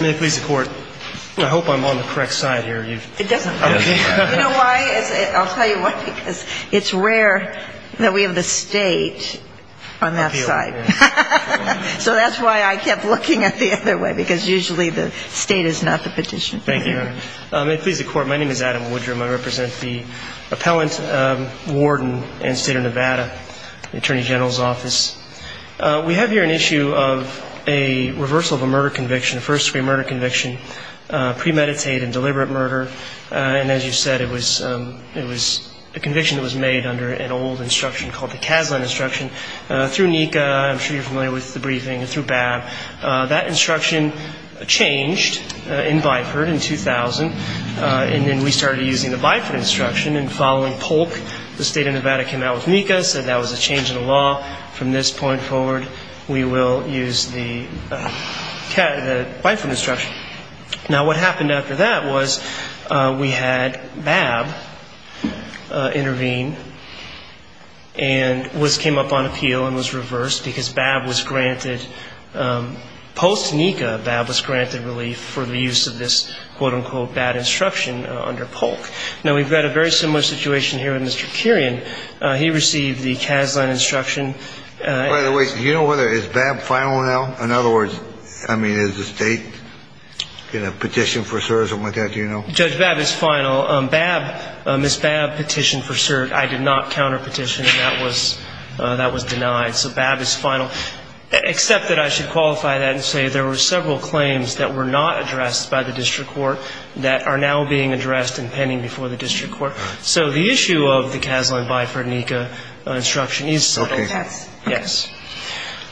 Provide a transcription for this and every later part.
May it please the Court, I hope I'm on the correct side here. It doesn't matter. You know why? I'll tell you why. Because it's rare that we have the State on that side. So that's why I kept looking at the other way, because usually the State is not the petitioner. Thank you. May it please the Court, my name is Adam Woodrum. I represent the Appellant Warden and State of Nevada Attorney General's Office. We have here an issue of a reversal of a murder conviction, a first-degree murder conviction, premeditated and deliberate murder. And as you said, it was a conviction that was made under an old instruction called the Kaslan Instruction. Through NECA, I'm sure you're familiar with the briefing, and through BAB, that instruction changed in Byford in 2000. And then we started using the Byford Instruction. And following Polk, the State of Nevada came out with NECA, said that was a change in the law. From this point forward, we will use the Byford Instruction. Now, what happened after that was we had BAB intervene and came up on appeal and was reversed, because BAB was granted, post-NECA, BAB was granted relief for the use of this, quote-unquote, bad instruction under Polk. Now, we've got a very similar situation here with Mr. Kerian. He received the Kaslan Instruction. By the way, do you know whether is BAB final now? In other words, I mean, is the State going to petition for cert or something like that? Do you know? Judge, BAB is final. BAB, Ms. BAB petitioned for cert. I did not counterpetition, and that was denied. So BAB is final, except that I should qualify that and say there were several claims that were not addressed by the district court that are now being addressed and pending before the district court. So the issue of the Kaslan Byford NECA Instruction is several. Okay. Yes.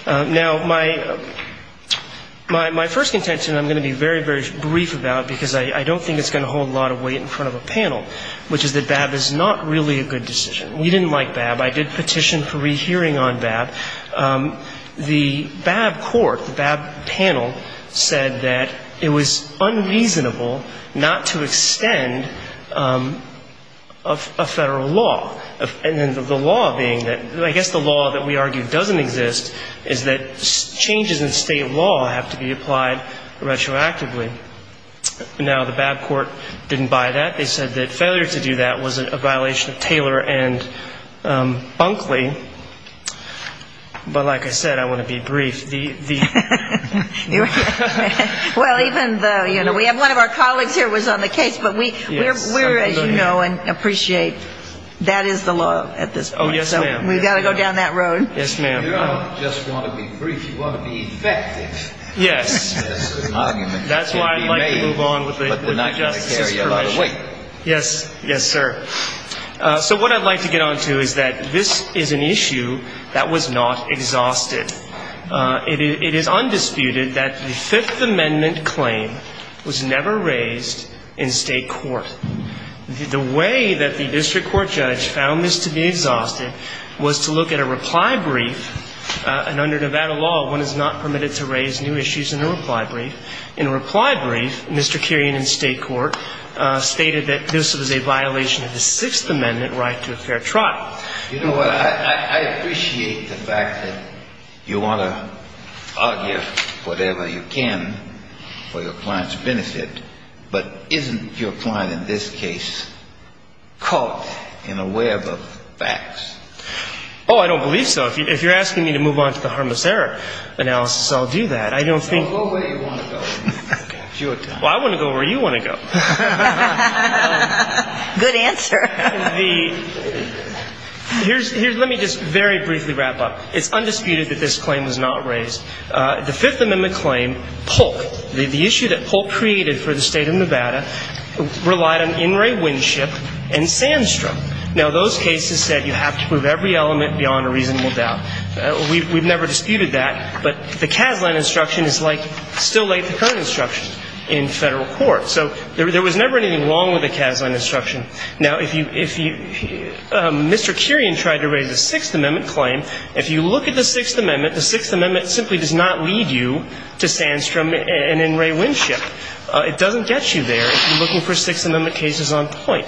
Now, my first contention I'm going to be very, very brief about, because I don't think it's going to hold a lot of weight in front of a panel, which is that BAB is not really a good decision. We didn't like BAB. I did petition for rehearing on BAB. The BAB court, the BAB panel, said that it was unreasonable not to extend a Federal law, and then the law being that, I guess the law that we argue doesn't exist is that changes in State law have to be applied retroactively. Now, the BAB court didn't buy that. They said that failure to do that was a violation of Taylor and Bunkley. But like I said, I want to be brief. Well, even though, you know, one of our colleagues here was on the case, but we're, as you know and appreciate, that is the law at this point. Oh, yes, ma'am. So we've got to go down that road. Yes, ma'am. You don't just want to be brief. You want to be effective. Yes. That's why I'd like to move on with the Justice's permission. But we're not going to carry a lot of weight. Yes, sir. So what I'd like to get on to is that this is an issue that was not exhausted. It is undisputed that the Fifth Amendment claim was never raised in State court. The way that the district court judge found this to be exhausted was to look at a reply brief, and under Nevada law, one is not permitted to raise new issues in a reply brief. In a reply brief, Mr. Kerrion in State court stated that this was a violation of the Sixth Amendment right to a fair trial. You know what? I appreciate the fact that you want to argue whatever you can for your client's benefit, but isn't your client in this case caught in a web of facts? Oh, I don't believe so. If you're asking me to move on to the harmless error analysis, I'll do that. I don't think — Well, go where you want to go. Well, I want to go where you want to go. Good answer. Let me just very briefly wrap up. It's undisputed that this claim was not raised. The Fifth Amendment claim, Polk, the issue that Polk created for the State of Nevada, relied on In re Winship and Sandstrom. Now, those cases said you have to prove every element beyond a reasonable doubt. We've never disputed that, but the Caslen instruction is like still-late-to-current instructions in Federal court. So there was never anything wrong with the Caslen instruction. Now, if you — if you — Mr. Kerrion tried to raise the Sixth Amendment claim. If you look at the Sixth Amendment, the Sixth Amendment simply does not lead you to Sandstrom and In re Winship. It doesn't get you there if you're looking for Sixth Amendment cases on point.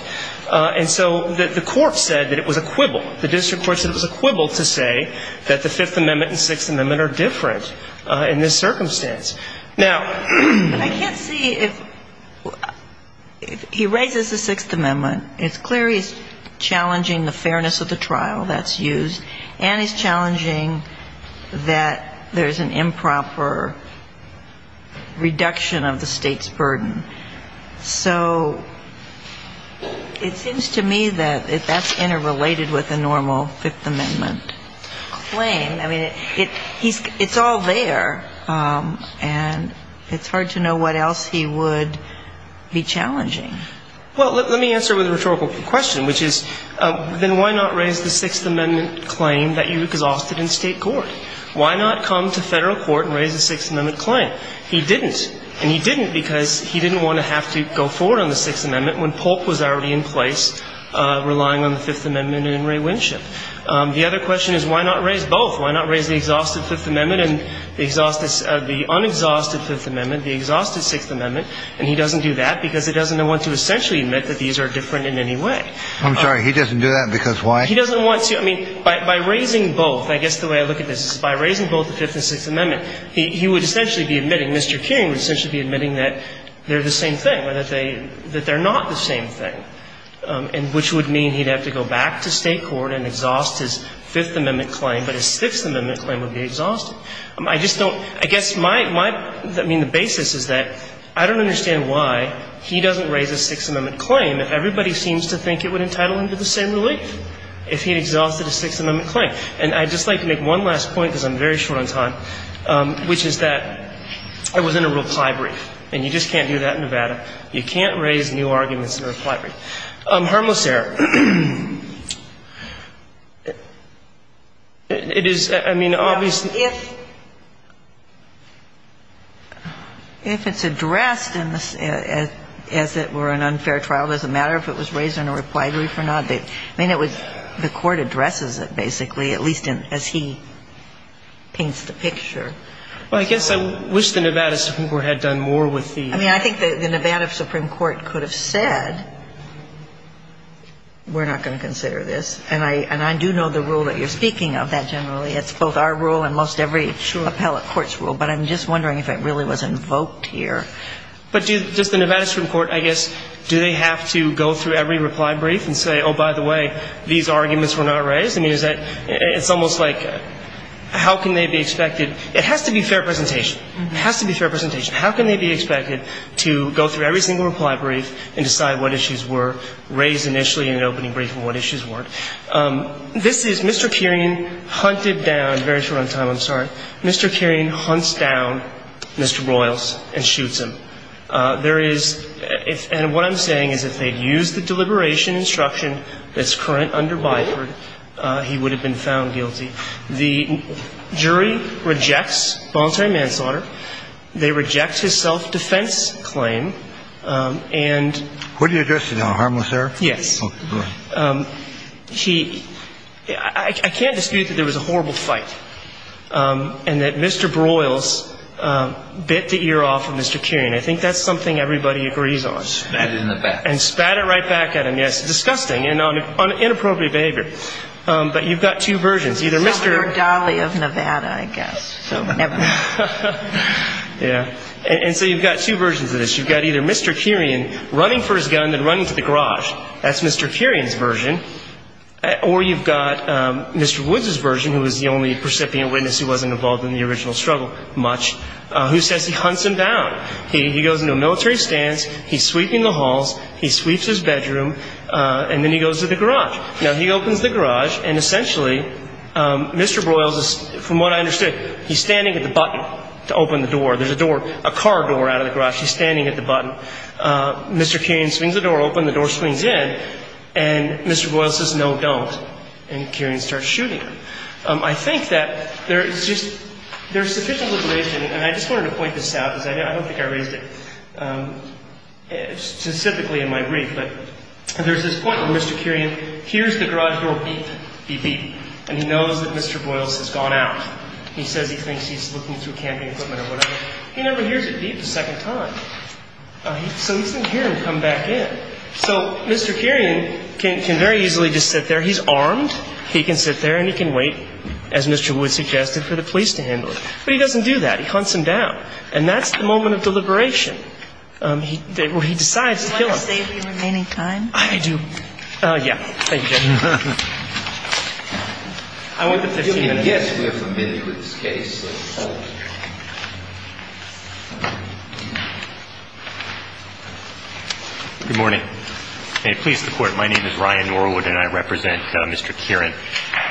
And so the court said that it was a quibble. The district court said it was a quibble to say that the Fifth Amendment and Sixth Amendment are different in this circumstance. Now — I can't see if — he raises the Sixth Amendment. It's clear he's challenging the fairness of the trial that's used, and he's challenging that there's an improper reduction of the State's burden. So it seems to me that that's interrelated with a normal Fifth Amendment claim. I mean, it's all there, and it's hard to know what else he would be challenging. Well, let me answer with a rhetorical question, which is, then why not raise the Sixth Amendment claim that you exhausted in State court? Why not come to Federal court and raise a Sixth Amendment claim? He didn't. And he didn't because he didn't want to have to go forward on the Sixth Amendment when Polk was already in place, relying on the Fifth Amendment and in re Winship. The other question is, why not raise both? Why not raise the exhausted Fifth Amendment and the unexhausted Fifth Amendment, the exhausted Sixth Amendment? And he doesn't do that because he doesn't want to essentially admit that these are different in any way. I'm sorry. He doesn't do that because why? He doesn't want to. I mean, by raising both, I guess the way I look at this is by raising both the Fifth and Sixth Amendment, he would essentially be admitting, Mr. Keating would essentially be admitting that they're the same thing, or that they're not the same thing, which would mean he'd have to go back to State court and exhaust his Fifth Amendment claim, but his Sixth Amendment claim would be exhausted. I just don't – I guess my – I mean, the basis is that I don't understand why he doesn't raise a Sixth Amendment claim if everybody seems to think it would entitle him to the same relief if he had exhausted a Sixth Amendment claim. And I'd just like to make one last point because I'm very short on time, which is that it was in a reply brief, and you just can't do that in Nevada. You can't raise new arguments in a reply brief. Harmless error. It is – I mean, obviously – If it's addressed as it were an unfair trial, it doesn't matter if it was raised in a reply brief or not. I mean, it was – the Court addresses it, basically, at least as he paints the picture. Well, I guess I wish the Nevada Supreme Court had done more with the – I mean, I think the Nevada Supreme Court could have said, we're not going to consider this. And I do know the rule that you're speaking of that generally. It's both our rule and most every appellate court's rule. But I'm just wondering if it really was invoked here. But does the Nevada Supreme Court, I guess, do they have to go through every reply brief and say, oh, by the way, these arguments were not raised? I mean, is that – it's almost like how can they be expected – it has to be fair presentation. It has to be fair presentation. How can they be expected to go through every single reply brief and decide what issues were raised initially in an opening brief and what issues weren't? This is Mr. Kerian hunted down – very short on time, I'm sorry. Mr. Kerian hunts down Mr. Royles and shoots him. There is – and what I'm saying is if they'd used the deliberation instruction that's current under Byford, he would have been found guilty. The jury rejects voluntary manslaughter. They reject his self-defense claim. And – What did he address? Harmless error? Yes. He – I can't dispute that there was a horrible fight. And that Mr. Royles bit the ear off of Mr. Kerian. I think that's something everybody agrees on. Spat it in the back. And spat it right back at him, yes. Disgusting and inappropriate behavior. But you've got two versions. Either Mr. – It's not your Dolly of Nevada, I guess, so never mind. Yeah. And so you've got two versions of this. You've got either Mr. Kerian running for his gun and running to the garage. That's Mr. Kerian's version. Or you've got Mr. Woods' version, who is the only percipient witness who wasn't involved in the original struggle much, who says he hunts him down. He goes into a military stance. He's sweeping the halls. He sweeps his bedroom. And then he goes to the garage. Now, he opens the garage. And essentially, Mr. Royles is – from what I understood, he's standing at the button to open the door. There's a door – a car door out of the garage. He's standing at the button. Mr. Kerian swings the door open. The door swings in. And Mr. Royles says, no, don't. And Kerian starts shooting. I think that there's just – there's sufficient liberation. And I just wanted to point this out because I don't think I raised it specifically in my brief. But there's this point where Mr. Kerian hears the garage door beep, beep, beep, and he knows that Mr. Royles has gone out. He says he thinks he's looking through camping equipment or whatever. He never hears it beep a second time. So he doesn't hear him come back in. So Mr. Kerian can very easily just sit there. He's armed. He can sit there and he can wait, as Mr. Wood suggested, for the police to handle it. But he doesn't do that. He hunts him down. And that's the moment of deliberation. He decides to kill him. Do you want to save your remaining time? I do. Yeah. Thank you, Judge. I want the 15 minutes. I'm going to guess we're familiar with this case. Good morning. May it please the Court. My name is Ryan Norwood and I represent Mr. Kerian.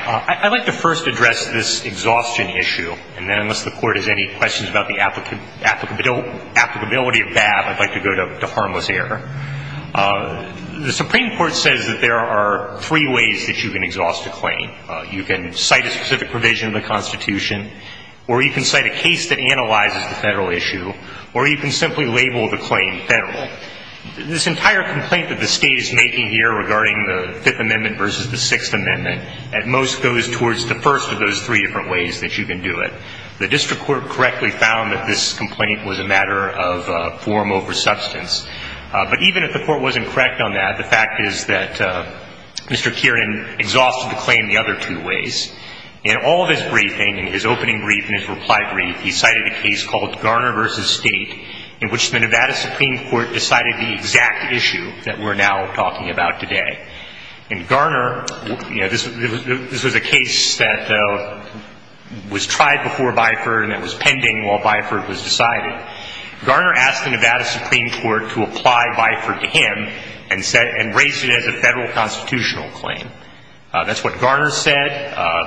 I'd like to first address this exhaustion issue. And then unless the Court has any questions about the applicability of that, I'd like to go to harmless error. The Supreme Court says that there are three ways that you can exhaust a claim. You can cite a specific provision of the Constitution. Or you can cite a case that analyzes the federal issue. Or you can simply label the claim federal. This entire complaint that the State is making here regarding the Fifth Amendment versus the Sixth Amendment, at most goes towards the first of those three different ways that you can do it. The District Court correctly found that this complaint was a matter of form over substance. But even if the Court wasn't correct on that, the fact is that Mr. Kerian exhausted the claim the other two ways. In all of his briefing, in his opening brief and his reply brief, he cited a case called Garner versus State, in which the Nevada Supreme Court decided the exact issue that we're now talking about today. In Garner, this was a case that was tried before Byford and it was pending while Byford was decided. Garner asked the Nevada Supreme Court to apply Byford to him and raised it as a federal constitutional claim. That's what Garner said.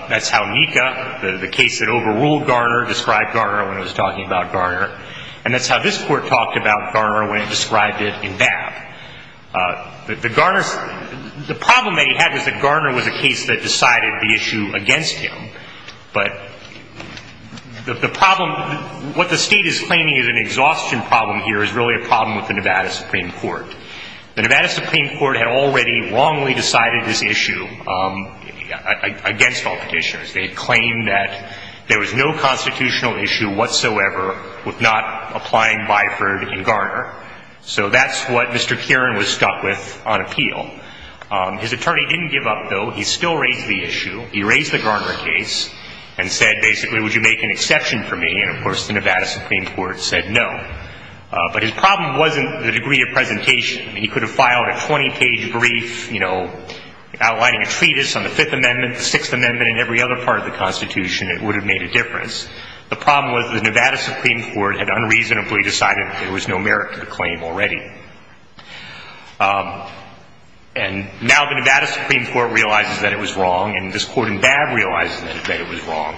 That's how Mika, the case that overruled Garner, described Garner when it was talking about Garner. And that's how this Court talked about Garner when it described it in Babb. The Garner's – the problem that he had was that Garner was a case that decided the issue against him. But the problem – what the State is claiming is an exhaustion problem here is really a problem with the Nevada Supreme Court. The Nevada Supreme Court had already wrongly decided this issue against all Petitioners. They had claimed that there was no constitutional issue whatsoever with not applying Byford in Garner. So that's what Mr. Kerian was stuck with on appeal. His attorney didn't give up, though. He still raised the issue. He raised the Garner case and said, basically, would you make an exception for me? And, of course, the Nevada Supreme Court said no. But his problem wasn't the degree of presentation. He could have filed a 20-page brief, you know, outlining a treatise on the Fifth Amendment, the Sixth Amendment, and every other part of the Constitution. It would have made a difference. The problem was the Nevada Supreme Court had unreasonably decided there was no merit to the claim already. And now the Nevada Supreme Court realizes that it was wrong, and this Court in Babb realizes that it was wrong.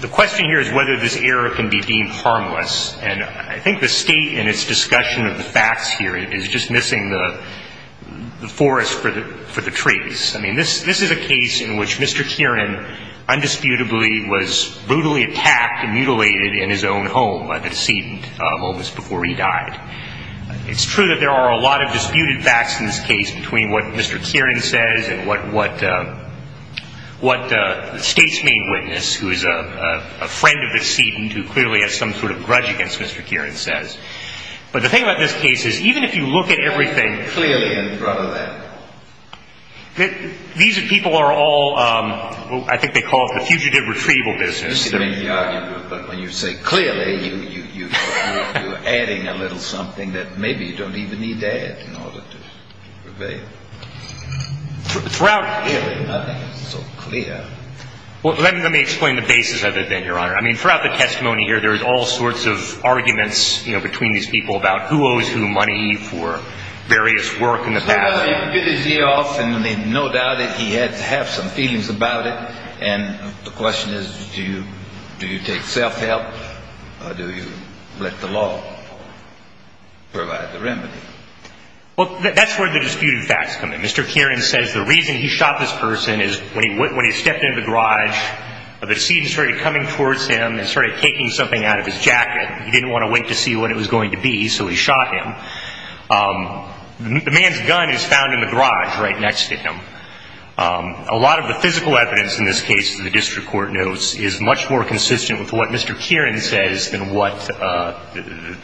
The question here is whether this error can be deemed harmless. And I think the State in its discussion of the facts here is just missing the forest for the trees. I mean, this is a case in which Mr. Kerian undisputably was brutally attacked and mutilated in his own home by the decedent moments before he died. It's true that there are a lot of disputed facts in this case between what Mr. Kerian says and what the State's main witness, who is a friend of the decedent who clearly has some sort of grudge against Mr. Kerian, says. But the thing about this case is, even if you look at everything, these people are all, I think they call it the fugitive retrieval business. But when you say clearly, you're adding a little something that maybe you don't even need to add in order to prevail. Clearly nothing is so clear. Well, let me explain the basis of it then, Your Honor. I mean, throughout the testimony here, there is all sorts of arguments between these people about who owes who money for various work in the past. I mean, no doubt that he had to have some feelings about it. And the question is, do you take self-help or do you let the law provide the remedy? Well, that's where the disputed facts come in. Mr. Kerian says the reason he shot this person is when he stepped into the garage, the decedent started coming towards him and started taking something out of his jacket. He didn't want to wait to see what it was going to be, so he shot him. The man's gun is found in the garage right next to him. A lot of the physical evidence in this case, the district court notes, is much more consistent with what Mr. Kerian says than what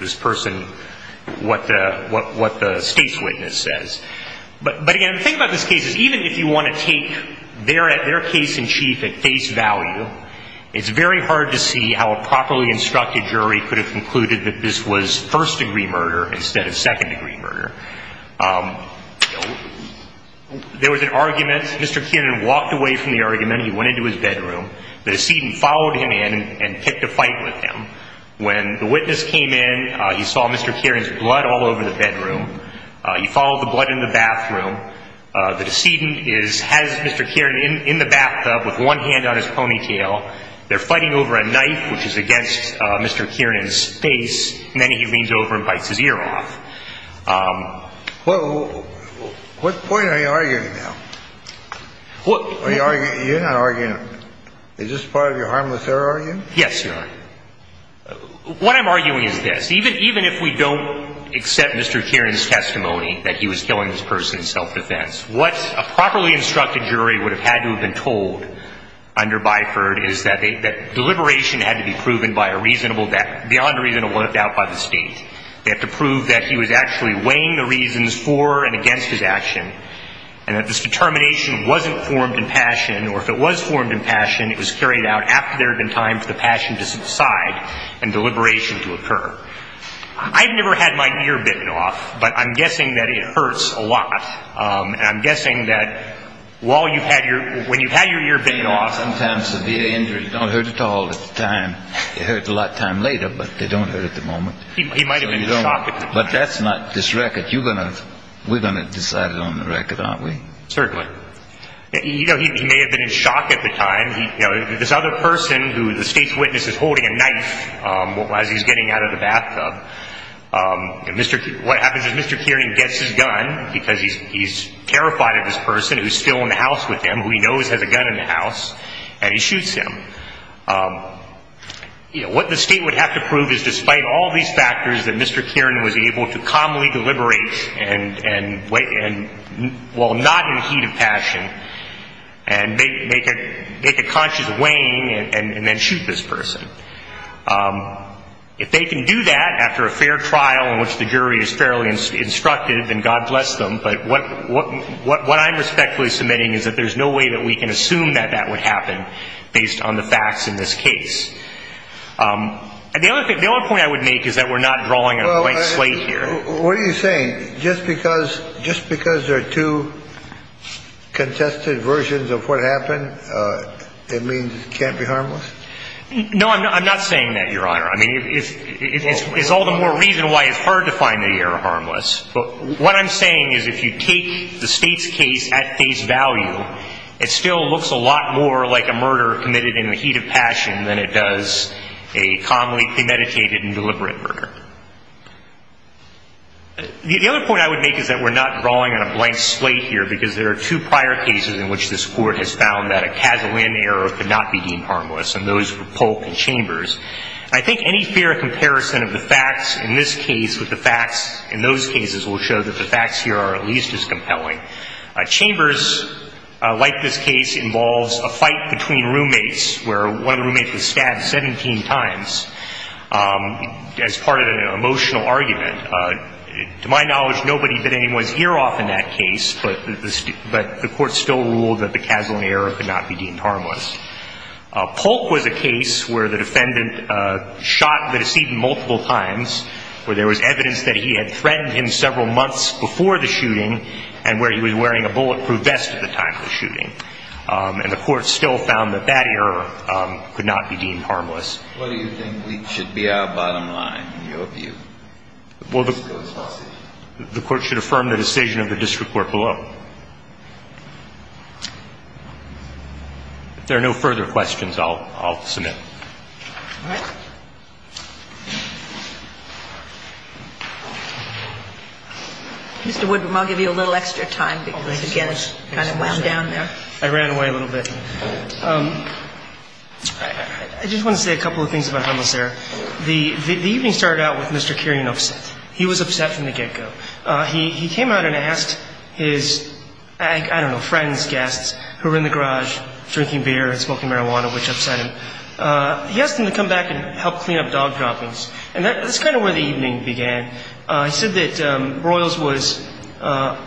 this person, what the state's witness says. But again, the thing about this case is even if you want to take their case in chief at face value, it's very hard to see how a properly instructed jury could have concluded that this was first-degree murder instead of second-degree murder. There was an argument. Mr. Kerian walked away from the argument. He went into his bedroom. The decedent followed him in and picked a fight with him. When the witness came in, he saw Mr. Kerian's blood all over the bedroom. He followed the blood in the bathroom. The decedent has Mr. Kerian in the bathtub with one hand on his ponytail. They're fighting over a knife, which is against Mr. Kerian's face, and then he leans over and bites his ear off. What point are you arguing now? You're not arguing. Is this part of your harmless error argument? Yes, Your Honor. What I'm arguing is this. What a properly instructed jury would have had to have been told under Byford is that deliberation had to be proven beyond a reasonable doubt by the state. They have to prove that he was actually weighing the reasons for and against his action, and that this determination wasn't formed in passion, or if it was formed in passion, it was carried out after there had been time for the passion to subside and deliberation to occur. I've never had my ear bitten off, but I'm guessing that it hurts a lot, and I'm guessing that when you've had your ear bitten off... Sometimes severe injuries don't hurt at all at the time. It hurts a lot time later, but they don't hurt at the moment. He might have been in shock at the time. But that's not this record. We're going to decide it on the record, aren't we? Certainly. He may have been in shock at the time. This other person who the state's witness is holding a knife as he's getting out of the bathtub, what happens is Mr. Kieran gets his gun because he's terrified of this person who's still in the house with him, who he knows has a gun in the house, and he shoots him. What the state would have to prove is despite all these factors, that Mr. Kieran was able to calmly deliberate while not in heat of passion and make a conscious weighing and then shoot this person. If they can do that after a fair trial in which the jury is fairly instructive, then God bless them. But what I'm respectfully submitting is that there's no way that we can assume that that would happen based on the facts in this case. The only point I would make is that we're not drawing a white slate here. What are you saying? Just because there are two contested versions of what happened, it means it can't be harmless? No, I'm not saying that, Your Honor. I mean, it's all the more reason why it's hard to find the error harmless. What I'm saying is if you take the state's case at face value, it still looks a lot more like a murder committed in the heat of passion than it does a calmly premeditated and deliberate murder. The other point I would make is that we're not drawing on a blank slate here because there are two prior cases in which this Court has found that a casual in error could not be deemed harmless, and those were Polk and Chambers. I think any fair comparison of the facts in this case with the facts in those cases will show that the facts here are at least as compelling. Chambers, like this case, involves a fight between roommates where one roommate was stabbed 17 times as part of an emotional argument. To my knowledge, nobody bit anyone's ear off in that case, but the Court still ruled that the casual in error could not be deemed harmless. Polk was a case where the defendant shot the decedent multiple times, where there was evidence that he had threatened him several months before the shooting and where he was wearing a bulletproof vest at the time of the shooting. And the Court still found that that error could not be deemed harmless. What do you think should be our bottom line in your view? Well, the Court should affirm the decision of the district court below. If there are no further questions, I'll submit. All right. Mr. Woodman, I'll give you a little extra time because, again, it's kind of wound down there. I ran away a little bit. I just want to say a couple of things about harmless error. The evening started out with Mr. Kirian upset. He was upset from the get-go. He came out and asked his, I don't know, friends, guests, who were in the garage drinking beer and smoking marijuana, which upset him. He asked them to come back and help clean up dog droppings. And that's kind of where the evening began. He said that Broyles was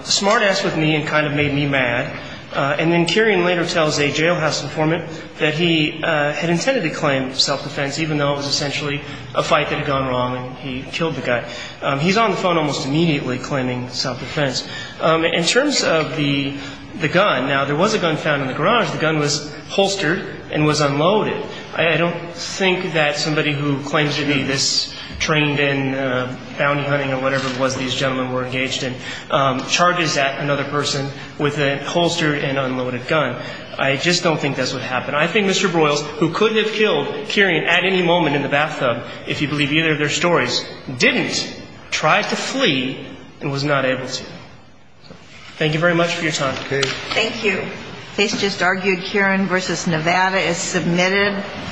smart-ass with me and kind of made me mad. And then Kirian later tells a jailhouse informant that he had intended to claim self-defense, even though it was essentially a fight that had gone wrong and he killed the guy. He's on the phone almost immediately claiming self-defense. In terms of the gun, now, there was a gun found in the garage. The gun was holstered and was unloaded. I don't think that somebody who claims to be this trained in bounty hunting or whatever it was these gentlemen were engaged in charges that another person with a holstered and unloaded gun. I just don't think that's what happened. I think Mr. Broyles, who could have killed Kirian at any moment in the bathtub, if you believe either of their stories, didn't, tried to flee and was not able to. Thank you very much for your time. Thank you. Case just argued. Kirian v. Nevada is submitted.